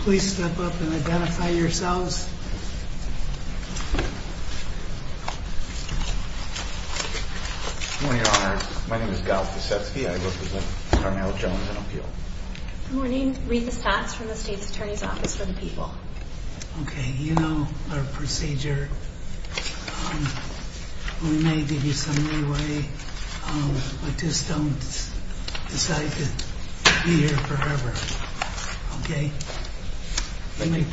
Please step up and identify yourselves. My name is God. Good morning. Read the stats from the state's attorney's office for the people. Okay. You know our procedure. We may give you some leeway, but just don't decide to be here forever. Okay? Let me proceed.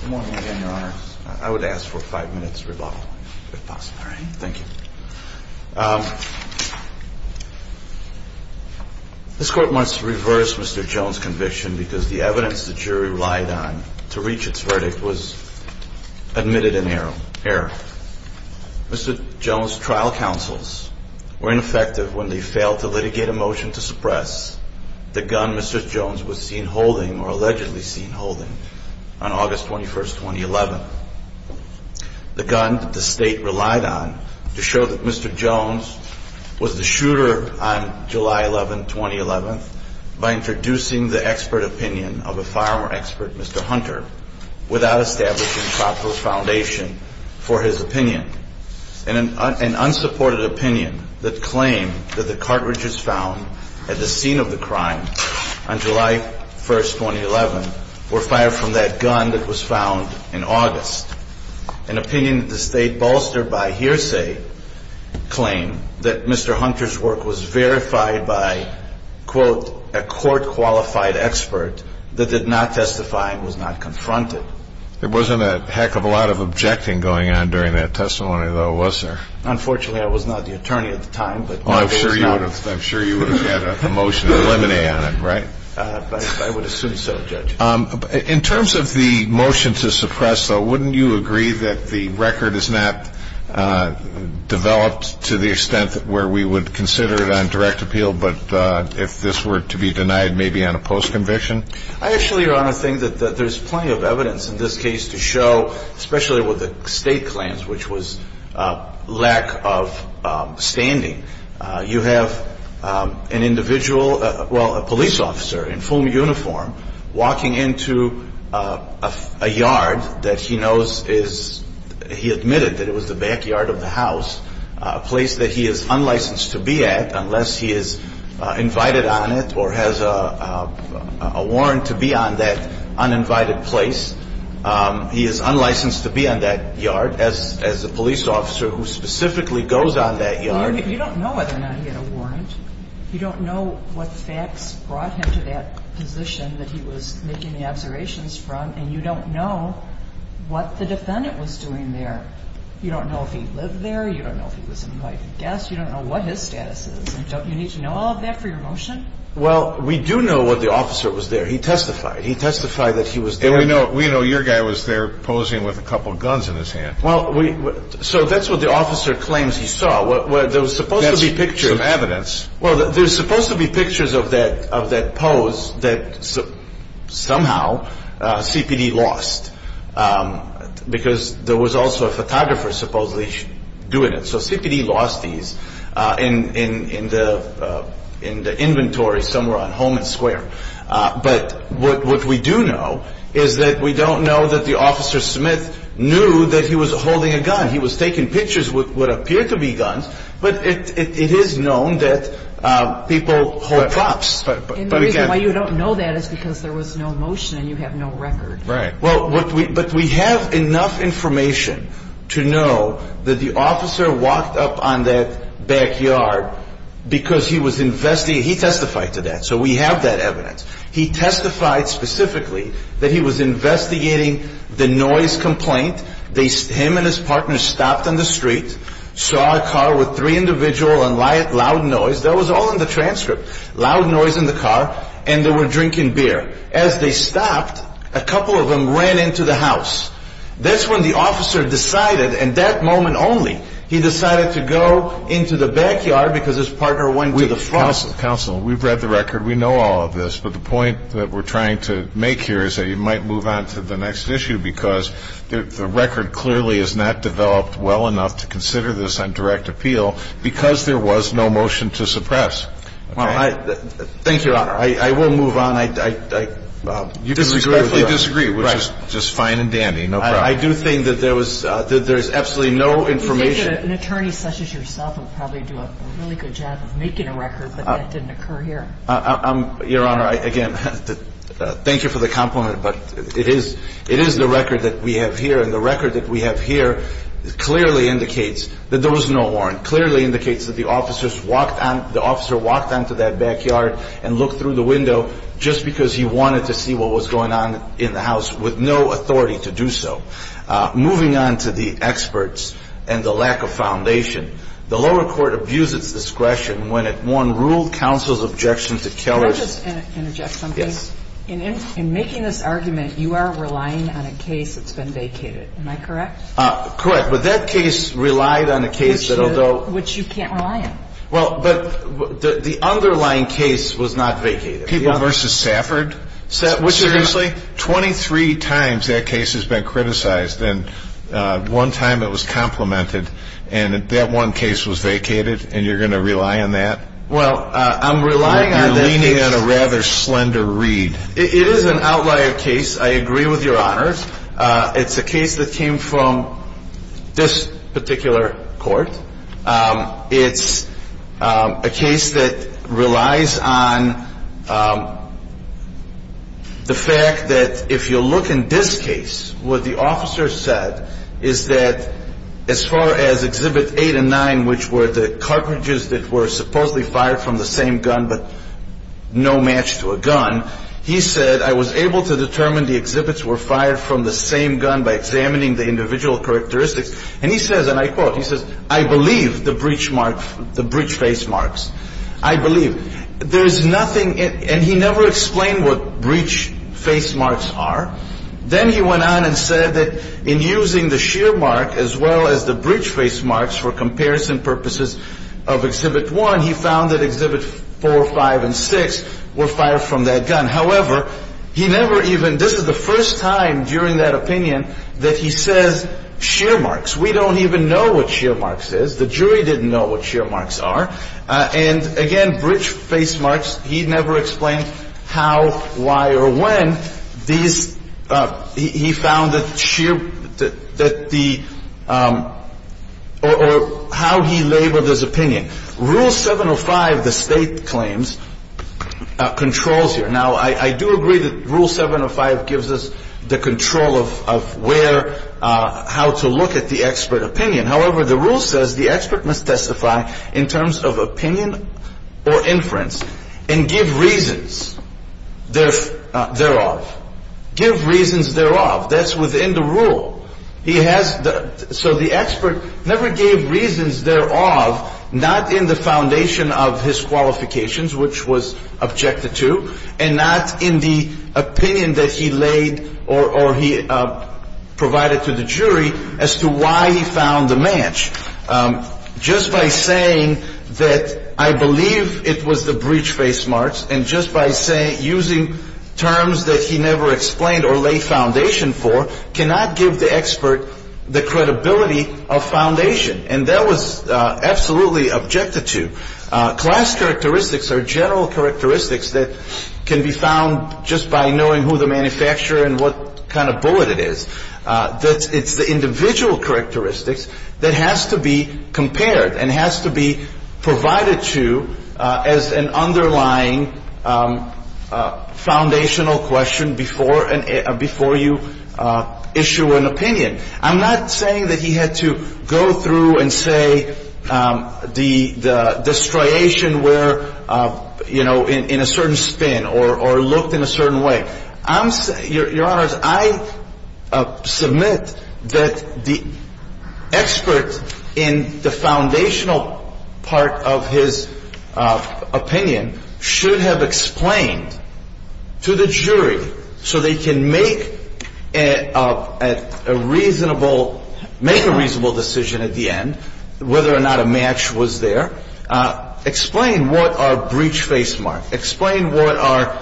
Good morning again, Your Honor. I would ask for five minutes rebuttal, if possible. Thank you. This Court wants to reverse Mr. Jones' conviction because the evidence the jury relied on to reach its verdict was admitted in error. Mr. Jones' trial counsels were ineffective when they failed to litigate a motion to suppress the gun Mr. Jones was seen holding or allegedly seen holding on August 21, 2011. The gun that the state relied on to show that Mr. Jones was the shooter on July 11, 2011, by introducing the expert opinion of a firearm expert, Mr. Hunter, without establishing proper foundation for his opinion. An unsupported opinion that claimed that the cartridges found at the scene of the crime on July 1, 2011, were fired from that gun that was found in August. An opinion that the state bolstered by hearsay claimed that Mr. Hunter's work was verified by, quote, a court-qualified expert that did not testify and was not confronted. And Mr. Hunter was not present when it was fired. I would ask that the jury rebuttal be rebutted. There wasn't a heck of a lot of objecting going on during that testimony, though, was there? Unfortunately, I was not the attorney at the time, but that goes without saying. Well, I'm sure you would have had a motion to eliminate on it, right? I would assume so, Judge. In terms of the motion to suppress, though, wouldn't you agree that the record is not developed to the extent where we would consider it on direct appeal, but if this were to be denied, maybe on a post-conviction? I actually, Your Honor, think that there's plenty of evidence in this case to show, especially with the state claims, which was lack of standing. You have an individual – well, a police officer in full uniform walking into a yard that he knows is – he admitted that it was the backyard of the house, a place that he is unlicensed to be at unless he is invited on it or has a warrant to be on that uninvited place. He is unlicensed to be on that yard as a police officer who specifically goes on that yard. Well, you don't know whether or not he had a warrant. You don't know what facts brought him to that position that he was making the observations from. And you don't know what the defendant was doing there. You don't know if he lived there. You don't know if he was an invited guest. You don't know what his status is. And don't you need to know all of that for your motion? Well, we do know what the officer was there. He testified. He testified that he was there. And we know your guy was there posing with a couple guns in his hand. Well, we – so that's what the officer claims he saw. There was supposed to be pictures. That's some evidence. Well, there's supposed to be pictures of that pose that somehow CPD lost because there was also a photographer supposedly doing it. So CPD lost these in the inventory somewhere on Holman Square. But what we do know is that we don't know that the officer Smith knew that he was holding a gun. He was taking pictures with what appeared to be guns. But it is known that people hold props. And the reason why you don't know that is because there was no motion and you have no record. Right. But we have enough information to know that the officer walked up on that backyard because he was – he testified to that. So we have that evidence. He testified specifically that he was investigating the noise complaint. Him and his partner stopped on the street, saw a car with three individuals and loud noise. That was all in the transcript, loud noise in the car, and they were drinking beer. As they stopped, a couple of them ran into the house. That's when the officer decided, and that moment only, he decided to go into the backyard because his partner went to the front. Counsel, we've read the record. We know all of this. But the point that we're trying to make here is that you might move on to the next issue because the record clearly is not developed well enough to consider this on direct appeal because there was no motion to suppress. Well, I – thank you, Your Honor. I will move on. I – you can respectfully disagree, which is just fine and dandy. No problem. I do think that there was – that there is absolutely no information. You think that an attorney such as yourself would probably do a really good job of making a record, but that didn't occur here. Your Honor, again, thank you for the compliment, but it is the record that we have here, and the record that we have here clearly indicates that there was no warrant, clearly indicates that the officers walked on – the officer walked onto that backyard and looked through the window just because he wanted to see what was going on in the house with no authority to do so. Moving on to the experts and the lack of foundation, the lower court abused its discretion when it, one, ruled counsel's objection to Keller's – Can I just interject something? Yes. In making this argument, you are relying on a case that's been vacated. Am I correct? Correct. But that case relied on a case that although – Which you can't rely on. Well, but the underlying case was not vacated. People v. Safford? Seriously? Seriously? Twenty-three times that case has been criticized, and one time it was complimented, and that one case was vacated, and you're going to rely on that? Well, I'm relying on that case. You're leaning on a rather slender read. It is an outlier case. I agree with Your Honors. It's a case that came from this particular court. It's a case that relies on the fact that if you look in this case, what the officer said is that as far as Exhibit 8 and 9, which were the cartridges that were supposedly fired from the same gun but no match to a gun, he said, I was able to determine the exhibits were fired from the same gun by examining the individual characteristics. And he says, and I quote, he says, I believe the breech face marks. I believe. There's nothing – And he never explained what breech face marks are. Then he went on and said that in using the sheer mark as well as the breech face marks for comparison purposes of Exhibit 1, he found that Exhibit 4, 5, and 6 were fired from that gun. However, he never even – this is the first time during that opinion that he says sheer marks. We don't even know what sheer marks is. The jury didn't know what sheer marks are. And again, breech face marks, he never explained how, why, or when these – he found that sheer – that the – or how he labored his opinion. Rule 705, the State claims, controls here. Now, I do agree that Rule 705 gives us the control of where – how to look at the expert opinion. However, the rule says the expert must testify in terms of opinion or inference and give reasons thereof. Give reasons thereof. That's within the rule. He has – so the expert never gave reasons thereof, not in the foundation of his qualifications, which was objected to, and not in the opinion that he laid or he provided to the jury as to why he found the match. Just by saying that, I believe it was the breech face marks, and just by saying – using terms that he never explained or laid foundation for, cannot give the expert the credibility of foundation. And that was absolutely objected to. Class characteristics are general characteristics that can be found just by knowing who the manufacturer and what kind of bullet it is. It's the individual characteristics that has to be compared and has to be provided to as an underlying foundational question before you issue an opinion. I'm not saying that he had to go through and say the striation were, you know, in a certain spin or looked in a certain way. I'm – Your Honors, I submit that the expert in the foundational part of his opinion should have explained to the jury so they can make a reasonable – make a reasonable decision at the end whether or not a match was there. Explain what are breech face mark. Explain what are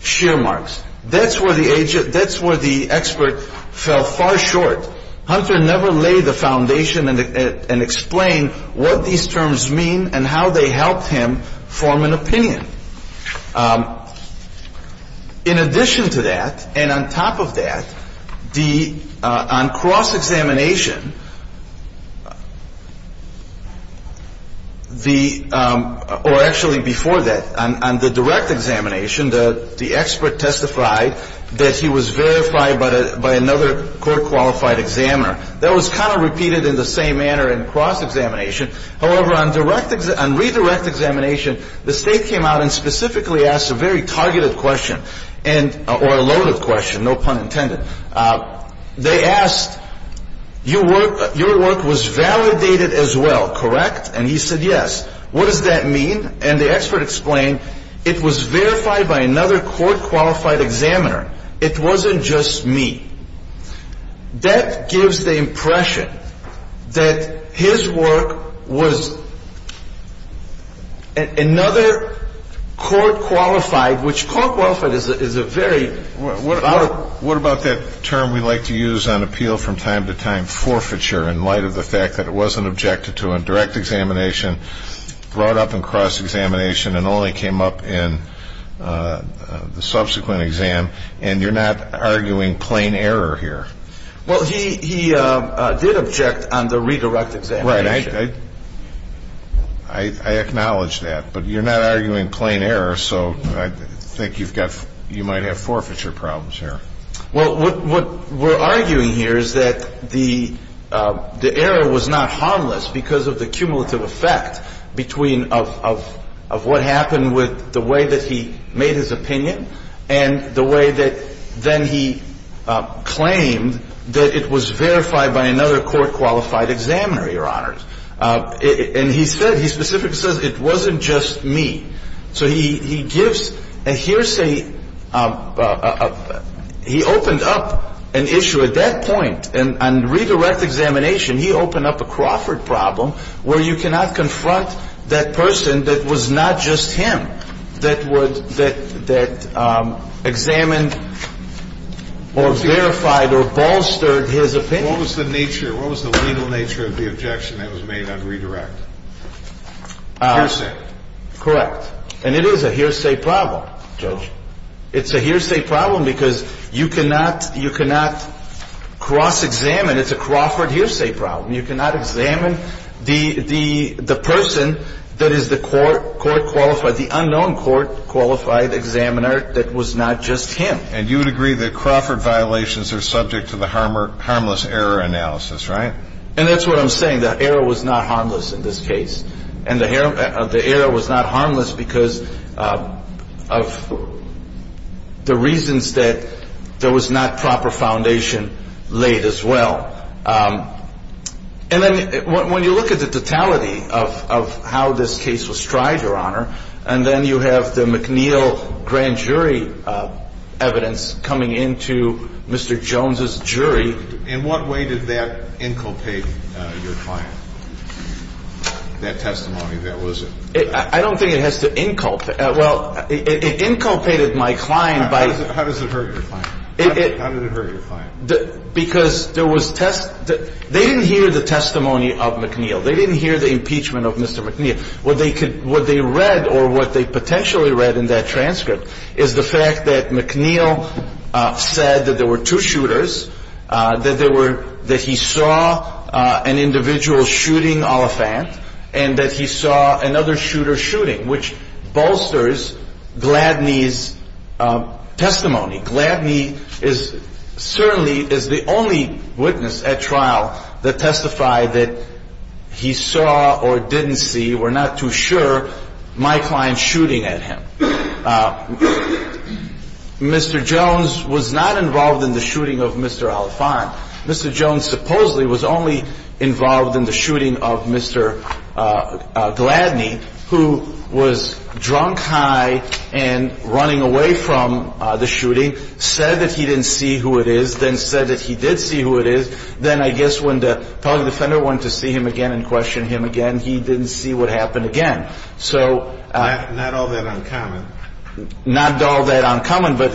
shear marks. That's where the agent – that's where the expert fell far short. Hunter never laid the foundation and explained what these terms mean and how they helped him form an opinion. In addition to that, and on top of that, the – on cross-examination, the – or actually before that, on the direct examination, the expert testified that he was verified by another court-qualified examiner. That was kind of repeated in the same manner in cross-examination. However, on direct – on redirect examination, the State came out and specifically asked a very targeted question and – or a loaded question, no pun intended. They asked, your work was validated as well, correct? And he said, yes. What does that mean? And the expert explained, it was verified by another court-qualified examiner. It wasn't just me. That gives the impression that his work was another court-qualified, which court-qualified is a very – What about that term we like to use on appeal from time to time, forfeiture, in light of the fact that it wasn't objected to in direct examination, brought up in cross-examination, and only came up in the subsequent exam. And you're not arguing plain error here. Well, he did object on the redirect examination. Right. I acknowledge that. But you're not arguing plain error, so I think you've got – you might have forfeiture problems here. Well, what we're arguing here is that the error was not harmless because of the cumulative effect between – of what happened with the way that he made his opinion and the way that then he claimed that it was verified by another court-qualified examiner, Your Honors. And he said – he specifically says, it wasn't just me. So he gives a hearsay – he opened up an issue at that point. And on redirect examination, he opened up a Crawford problem where you cannot confront that person that was not just him, that examined or verified or bolstered his opinion. What was the nature – what was the legal nature of the objection that was made on redirect? Hearsay. Correct. And it is a hearsay problem. Judge. It's a hearsay problem because you cannot – you cannot cross-examine. It's a Crawford hearsay problem. You cannot examine the person that is the court-qualified – the unknown court-qualified examiner that was not just him. And you would agree that Crawford violations are subject to the harmless error analysis, right? And that's what I'm saying. The error was not harmless in this case. And the error was not harmless because of the reasons that there was not proper foundation laid as well. And then when you look at the totality of how this case was tried, Your Honor, and then you have the McNeil grand jury evidence coming into Mr. Jones' jury. In what way did that inculpate your client, that testimony? That was a – I don't think it has to – well, it inculpated my client by – How does it hurt your client? How did it hurt your client? Because there was – they didn't hear the testimony of McNeil. They didn't hear the impeachment of Mr. McNeil. What they read or what they potentially read in that transcript is the fact that McNeil said that there were two shooters, that there were – that he saw an individual shooting Oliphant, and that he saw another shooter shooting, which bolsters Gladney's testimony. Gladney is – certainly is the only witness at trial that testified that he saw or didn't see, we're not too sure, my client shooting at him. Mr. Jones was not involved in the shooting of Mr. Oliphant. Mr. Jones supposedly was only involved in the shooting of Mr. Gladney, who was drunk high and running away from the shooting, said that he didn't see who it is, then said that he did see who it is, then I guess when the public defender went to see him again and question him again, he didn't see what happened again. So – Not all that uncommon. Not all that uncommon, but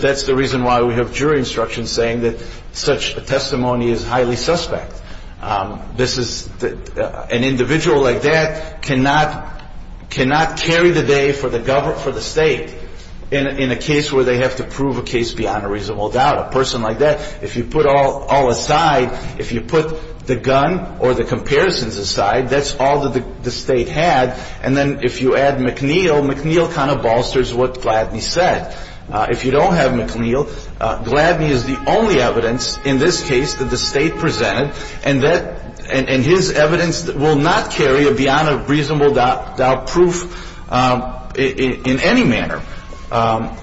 that's the reason why we have jury instructions saying that such a testimony is highly suspect. This is – an individual like that cannot – cannot carry the day for the state in a case where they have to prove a case beyond a reasonable doubt. A person like that, if you put all aside, if you put the gun or the comparisons aside, that's all that the state had, and then if you add McNeil, McNeil kind of bolsters what Gladney said. If you don't have McNeil, Gladney is the only evidence in this case that the state presented, and that – and his evidence will not carry beyond a reasonable doubt – doubt proof in any manner. So,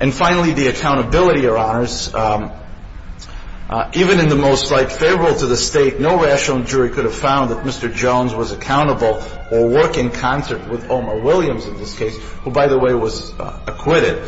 in the end, we have to be on the safe side. We have to be on the safe side. But we have to be on the safe side because, you know, Mr. Jones, even in the most slight favorable to the state, no rational jury could have found that Mr. Jones was accountable or worked in concert with Omar Williams in this case, who, by the way, was acquitted.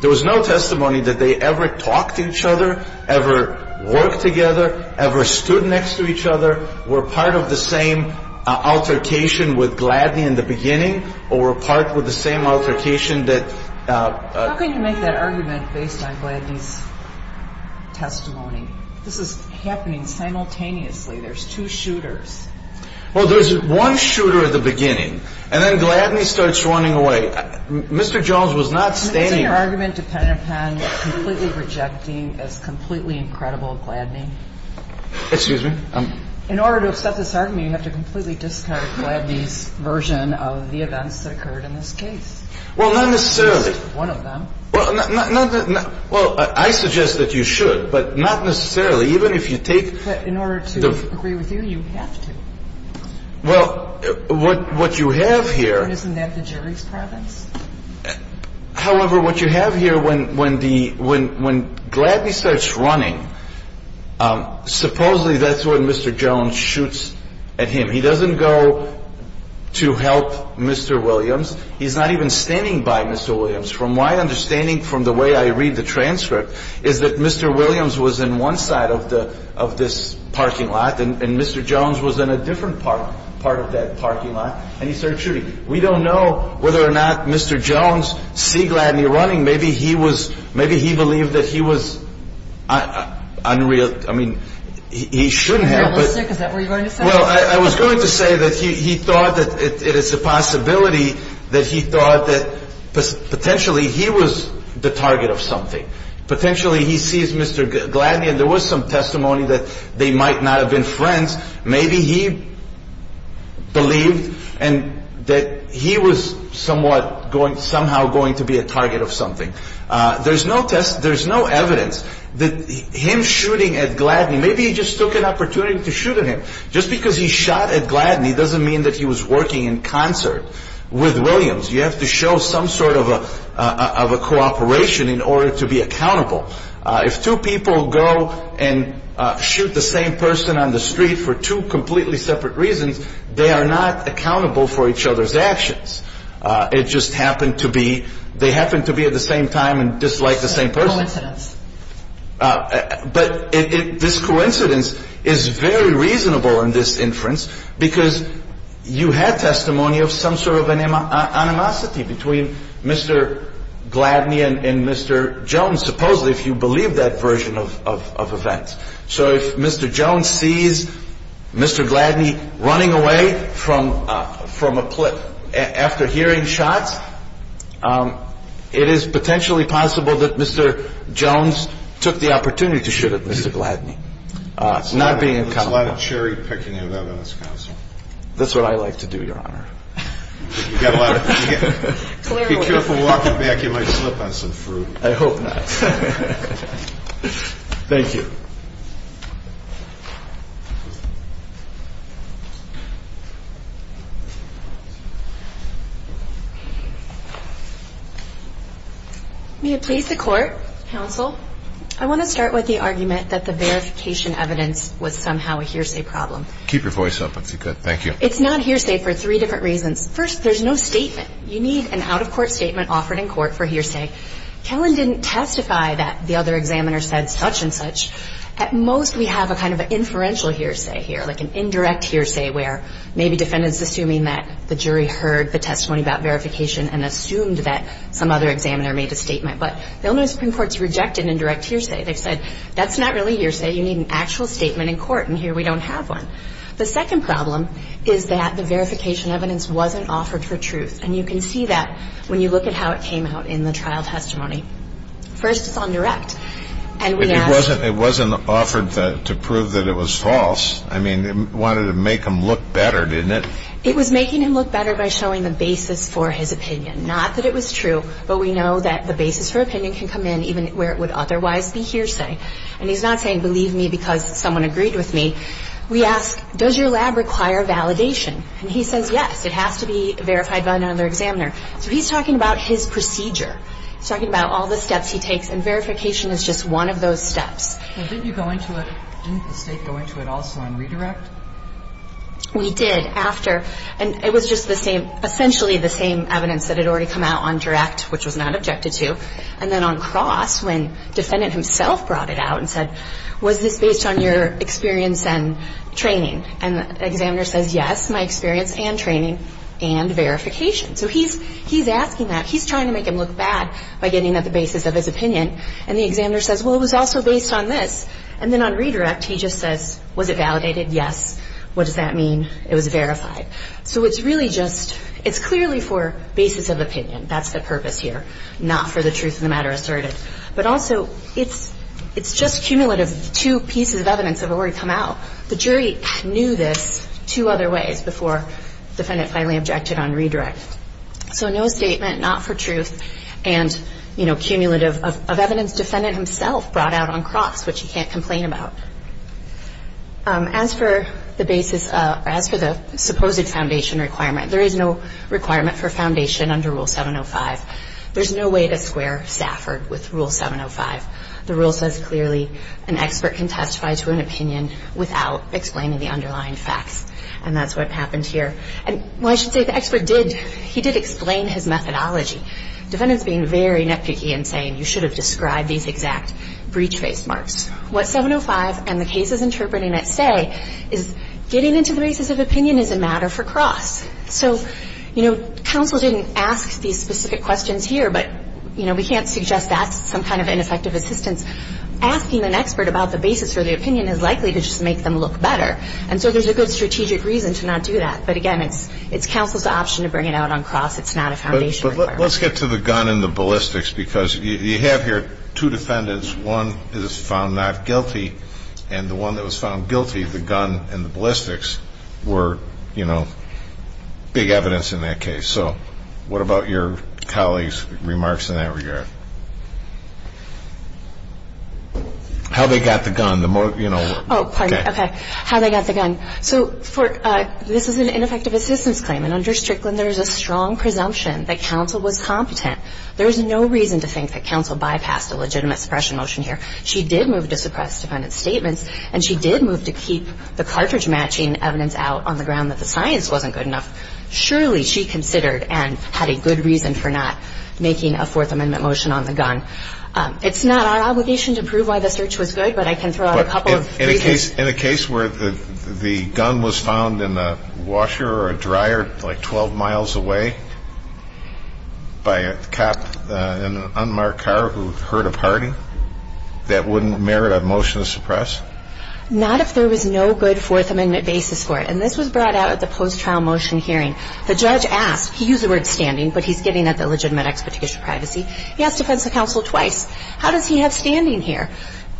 There was no testimony that they ever talked to each other, ever worked together, ever stood next to each other, were part of the same altercation with Gladney in the beginning, or were part of the same altercation that... How can you make that argument based on Gladney's testimony? This is happening simultaneously. There's two shooters. Well, there's one shooter at the beginning, and then Gladney starts running away. Mr. Jones was not standing... Isn't your argument dependent upon completely rejecting as completely incredible Gladney? Excuse me? In order to accept this argument, you have to completely discard Gladney's version of the events that occurred in this case. Well, not necessarily. Just one of them. Well, I suggest that you should, but not necessarily, even if you take... But in order to agree with you, you have to. Well, what you have here... Isn't that the jury's preference? However, what you have here, when Gladney starts running, supposedly that's when Mr. Jones shoots at him. He doesn't go to help Mr. Williams. He's not even standing by Mr. Williams. My understanding from the way I read the transcript is that Mr. Williams was in one side of this parking lot and Mr. Jones was in a different part of that parking lot, and he started shooting. We don't know whether or not Mr. Jones saw Gladney running. Maybe he was... Maybe he believed that he was unreal... I mean, he shouldn't have, but... Were you listening? Is that what you were going to say? Well, I was going to say that he thought that it is a possibility that he thought that potentially he was the target of something. Potentially he sees Mr. Gladney, and there was some testimony that they might not have been friends. Maybe he believed that he was somehow going to be a target of something. There's no evidence that him shooting at Gladney... Maybe he just took an opportunity to shoot at him. Just because he shot at Gladney doesn't mean that he was working in concert with Williams. You have to show some sort of a cooperation in order to be accountable. If two people go and shoot the same person on the street for two completely separate reasons, they are not accountable for each other's actions. It just happened to be... They happened to be at the same time and disliked the same person. It's a coincidence. But this coincidence is very reasonable in this inference, because you had testimony of some sort of animosity between Mr. Gladney and Mr. Jones, supposedly if you believe that version of events. So if Mr. Jones sees Mr. Gladney running away from a clip after hearing shots, it is potentially possible that Mr. Jones took the opportunity to shoot at Mr. Gladney. Not being accountable. There's a lot of cherry-picking of evidence, Counsel. That's what I like to do, Your Honor. You've got a lot of... Be careful walking back. You might slip on some fruit. I hope not. Thank you. May it please the Court, Counsel, I want to start with the argument that the verification evidence was somehow a hearsay problem. Keep your voice up if you could. Thank you. It's not hearsay for three different reasons. First, there's no statement. You need an out-of-court statement offered in court for hearsay. Kellan didn't testify that the other examiner said such and such. At most, we have a kind of an inferential hearsay here, like an indirect hearsay, where maybe defendants assuming that the jury heard the testimony about verification and assumed that some other examiner made a statement. But the Illinois Supreme Court's rejected indirect hearsay. They've said, that's not really hearsay. You need an actual statement in court, and here we don't have one. The second problem is that the verification evidence wasn't offered for truth, and you can see that when you look at how it came out in the trial testimony. First, it's on direct. It wasn't offered to prove that it was false. I mean, it wanted to make him look better, didn't it? It was making him look better by showing the basis for his opinion. Not that it was true, but we know that the basis for opinion can come in even where it would otherwise be hearsay. And he's not saying, believe me, because someone agreed with me. We ask, does your lab require validation? And he says, yes, it has to be verified by another examiner. So he's talking about his procedure. He's talking about all the steps he takes, and verification is just one of those steps. Well, didn't you go into it, didn't the State go into it also on redirect? We did after. And it was just the same, essentially the same evidence that had already come out on direct, which was not objected to. And then on cross, when defendant himself brought it out and said, was this based on your experience and training? And the examiner says, yes, my experience and training and verification. So he's asking that. He's trying to make him look bad by getting at the basis of his opinion. And the examiner says, well, it was also based on this. And then on redirect, he just says, was it validated? Yes. What does that mean? It was verified. So it's really just, it's clearly for basis of opinion. That's the purpose here, not for the truth of the matter asserted. But also, it's just cumulative. Two pieces of evidence have already come out. The jury knew this two other ways before defendant finally objected on redirect. So no statement, not for truth, and, you know, cumulative of evidence defendant himself brought out on cross, which he can't complain about. As for the basis, as for the supposed foundation requirement, there is no requirement for foundation under Rule 705. There's no way to square Stafford with Rule 705. The rule says clearly an expert can testify to an opinion without explaining the underlying facts. And that's what happened here. And, well, I should say the expert did. He did explain his methodology. Defendant's being very nitpicky in saying you should have described these exact breach-based marks. What 705 and the cases interpreting it say is getting into the basis of opinion is a matter for cross. So, you know, counsel didn't ask these specific questions here, but, you know, we can't suggest that's some kind of ineffective assistance. Asking an expert about the basis for the opinion is likely to just make them look better. And so there's a good strategic reason to not do that. But, again, it's counsel's option to bring it out on cross. It's not a foundation requirement. But let's get to the gun and the ballistics, because you have here two defendants. One is found not guilty, and the one that was found guilty, the gun and the ballistics, were, you know, big evidence in that case. So what about your colleagues' remarks in that regard? How they got the gun. Oh, pardon me. Okay. How they got the gun. So this is an ineffective assistance claim, and under Strickland there is a strong presumption that counsel was competent. There is no reason to think that counsel bypassed a legitimate suppression motion here. She did move to suppress defendant's statements, and she did move to keep the cartridge-matching evidence out on the ground that the science wasn't good enough. Surely she considered and had a good reason for not making a Fourth Amendment motion on the gun. It's not our obligation to prove why the search was good, but I can throw out a couple of reasons. But in a case where the gun was found in a washer or a dryer like 12 miles away by a cop in an unmarked car who hurt a party, that wouldn't merit a motion to suppress? Not if there was no good Fourth Amendment basis for it. And this was brought out at the post-trial motion hearing. The judge asked. He used the word standing, but he's getting at the legitimate expectation of privacy. He asked defense counsel twice, how does he have standing here?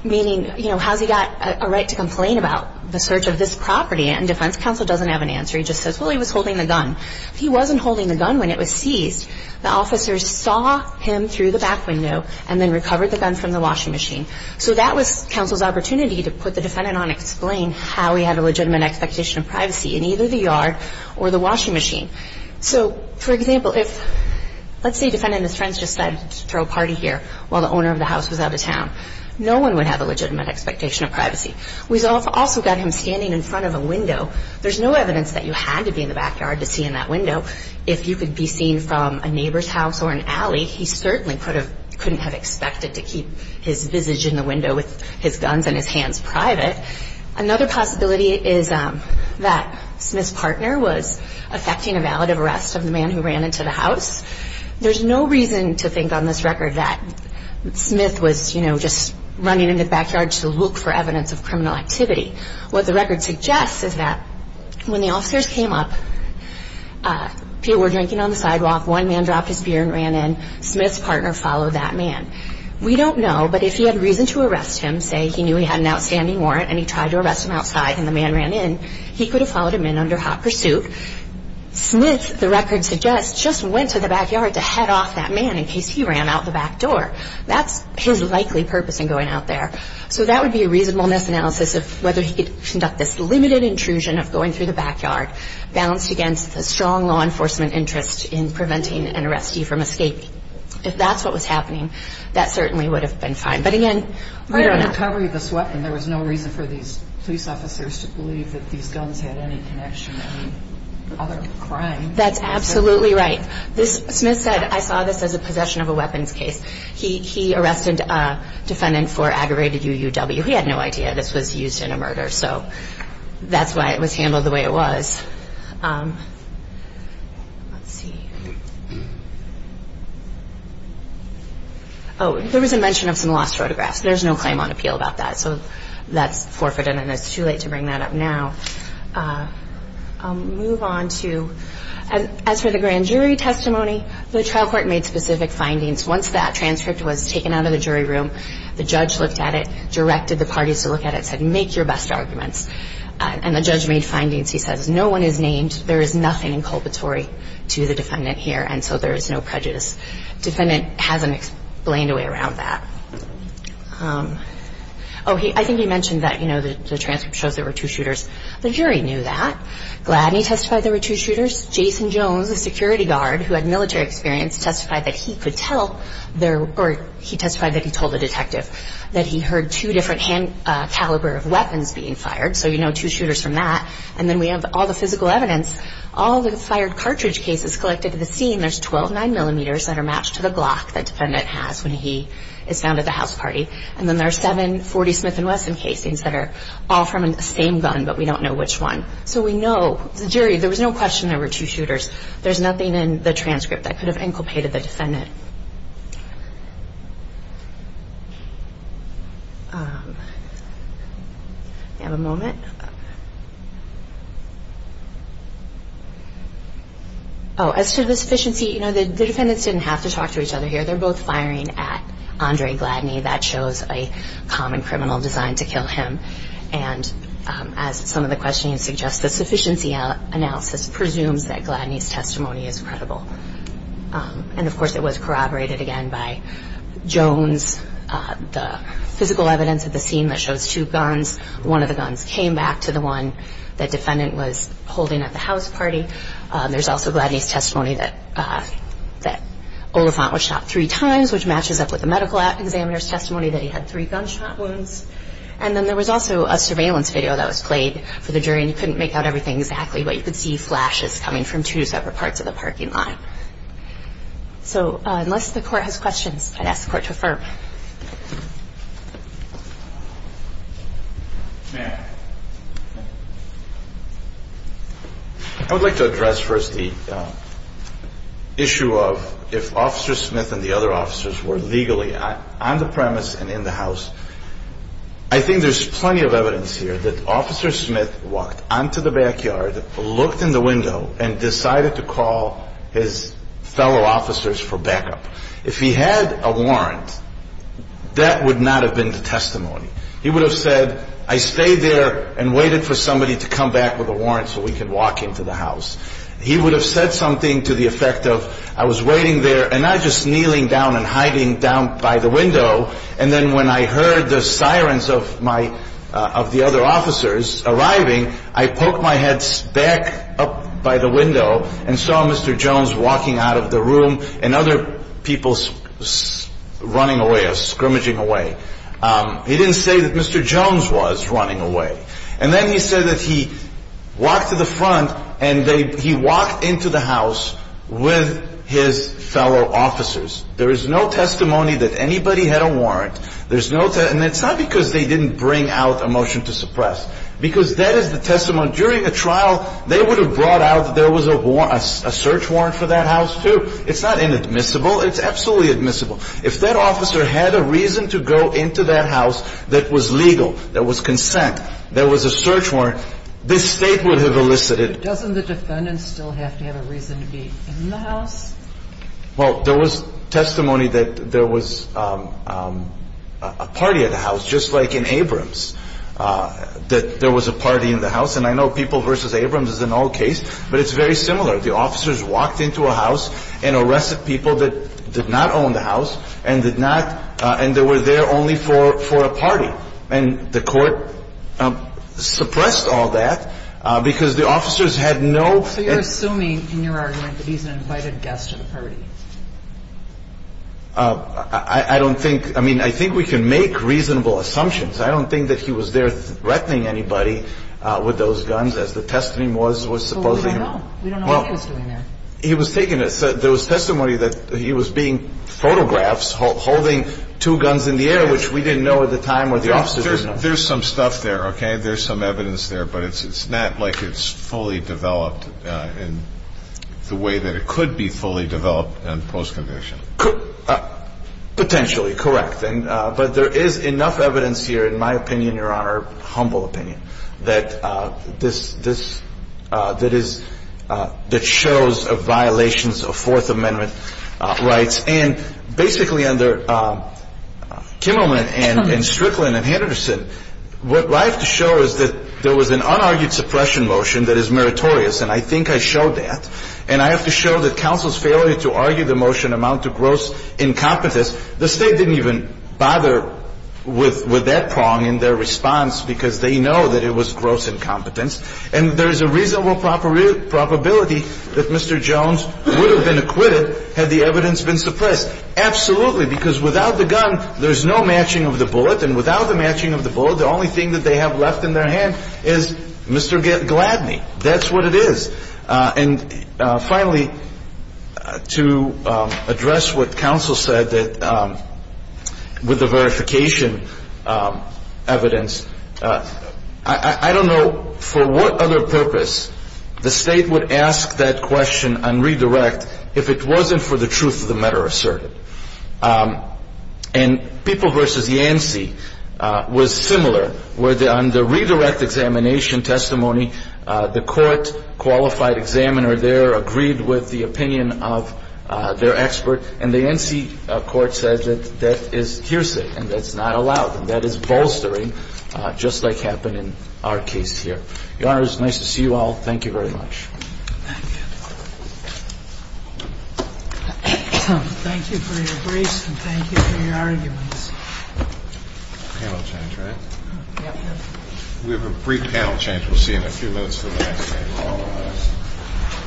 Meaning, you know, has he got a right to complain about the search of this property? And defense counsel doesn't have an answer. He just says, well, he was holding the gun. He wasn't holding the gun when it was seized. The officer saw him through the back window and then recovered the gun from the washing machine. So that was counsel's opportunity to put the defendant on explain how he had a legitimate expectation of privacy in either the yard or the washing machine. So, for example, if let's say defendant and his friends just decided to throw a party here while the owner of the house was out of town, no one would have a legitimate expectation of privacy. We've also got him standing in front of a window. There's no evidence that you had to be in the backyard to see in that window. If you could be seen from a neighbor's house or an alley, he certainly could have – couldn't have expected to keep his visage in the window with his guns and his hands private. Another possibility is that Smith's partner was affecting a valid of arrest of the man who ran into the house. There's no reason to think on this record that Smith was, you know, just running in the backyard to look for evidence of criminal activity. What the record suggests is that when the officers came up, people were drinking on the sidewalk. One man dropped his beer and ran in. Smith's partner followed that man. We don't know, but if he had reason to arrest him, say he knew he had an outstanding warrant and he tried to arrest him outside and the man ran in, he could have followed him in under hot pursuit. Smith, the record suggests, just went to the backyard to head off that man in case he ran out the back door. That's his likely purpose in going out there. So that would be a reasonableness analysis of whether he could conduct this limited intrusion of going through the backyard, balanced against a strong law enforcement interest in preventing an arrestee from escaping. If that's what was happening, that certainly would have been fine. But, again, we don't know. In the recovery of this weapon, there was no reason for these police officers to believe that these guns had any connection to any other crime. That's absolutely right. Smith said, I saw this as a possession of a weapons case. He arrested a defendant for aggravated UUW. He had no idea this was used in a murder, so that's why it was handled the way it was. Let's see. Oh, there was a mention of some lost photographs. There's no claim on appeal about that, so that's forfeited, and it's too late to bring that up now. I'll move on to, as for the grand jury testimony, the trial court made specific findings. Once that transcript was taken out of the jury room, the judge looked at it, directed the parties to look at it, said, make your best arguments. And the judge made findings. He says, no one is named. There is nothing inculpatory to the defendant here, and so there is no prejudice. Defendant hasn't explained a way around that. Oh, I think he mentioned that, you know, the transcript shows there were two shooters. The jury knew that. Gladney testified there were two shooters. Jason Jones, a security guard who had military experience, testified that he could tell, or he testified that he told the detective that he heard two different caliber of weapons being fired, so you know two shooters from that. And then we have all the physical evidence, all the fired cartridge cases collected at the scene. There's 12 9 millimeters that are matched to the Glock that defendant has when he is found at the house party. And then there's seven 40 Smith & Wesson casings that are all from the same gun, but we don't know which one. So we know, the jury, there was no question there were two shooters. We have a moment. Oh, as to the sufficiency, you know, the defendants didn't have to talk to each other here. They're both firing at Andre Gladney. That shows a common criminal designed to kill him. And as some of the questioning suggests, the sufficiency analysis presumes that Gladney's testimony is credible. And, of course, it was corroborated again by Jones. The physical evidence at the scene that shows two guns, one of the guns came back to the one that defendant was holding at the house party. There's also Gladney's testimony that Oliphant was shot three times, which matches up with the medical examiner's testimony that he had three gunshot wounds. And then there was also a surveillance video that was played for the jury, and you couldn't make out everything exactly, but you could see flashes coming from two separate parts of the parking lot. So unless the court has questions, I'd ask the court to affirm. I would like to address first the issue of if Officer Smith and the other officers were legally on the premise and in the house. I think there's plenty of evidence here that Officer Smith walked onto the window and decided to call his fellow officers for backup. If he had a warrant, that would not have been the testimony. He would have said, I stayed there and waited for somebody to come back with a warrant so we could walk into the house. He would have said something to the effect of I was waiting there and not just kneeling down and hiding down by the window, and then when I heard the sirens of the other officers arriving, I poked my head back up by the window and saw Mr. Jones walking out of the room and other people running away or scrimmaging away. He didn't say that Mr. Jones was running away. And then he said that he walked to the front and he walked into the house with his fellow officers. There is no testimony that anybody had a warrant. And it's not because they didn't bring out a motion to suppress. Because that is the testimony. During the trial, they would have brought out that there was a search warrant for that house, too. It's not inadmissible. It's absolutely admissible. If that officer had a reason to go into that house that was legal, that was consent, there was a search warrant, this State would have elicited it. Doesn't the defendant still have to have a reason to be in the house? Well, there was testimony that there was a party at the house, just like in Abrams, that there was a party in the house. And I know people versus Abrams is an old case, but it's very similar. The officers walked into a house and arrested people that did not own the house and did not, and they were there only for a party. And the court suppressed all that because the officers had no ---- So you're assuming in your argument that he's an invited guest to the party? I don't think ---- I mean, I think we can make reasonable assumptions. I don't think that he was there threatening anybody with those guns, as the testimony was supposedly. Well, we don't know. We don't know what he was doing there. He was taking a ---- there was testimony that he was being photographed holding two guns in the air, which we didn't know at the time or the officers didn't know. There's some stuff there, okay? There's some evidence there. But it's not like it's fully developed in the way that it could be fully developed in the post-condition. Potentially, correct. But there is enough evidence here, in my opinion, Your Honor, humble opinion, that this ---- that is ---- that shows violations of Fourth Amendment rights. And basically under Kimmelman and Strickland and Henderson, what I have to show is that there was an unargued suppression motion that is meritorious, and I think I showed that. And I have to show that counsel's failure to argue the motion amounted to gross incompetence. The State didn't even bother with that prong in their response because they know that it was gross incompetence. And there is a reasonable probability that Mr. Jones would have been acquitted had the evidence been suppressed. Absolutely, because without the gun, there's no matching of the bullet. And without the matching of the bullet, the only thing that they have left in their hand is Mr. Gladney. That's what it is. And finally, to address what counsel said that with the verification evidence, I don't know for what other purpose the State would ask that question and redirect if it wasn't for the truth of the matter asserted. And People v. Yancey was similar. On the redirect examination testimony, the court qualified examiner there agreed with the opinion of their expert, and the Yancey court said that that is hearsay and that's not allowed. That is bolstering, just like happened in our case here. Your Honor, it was nice to see you all. Thank you very much. Thank you. Thank you for your briefs and thank you for your arguments. Panel change, right? We have a brief panel change. We'll see you in a few minutes for the next panel.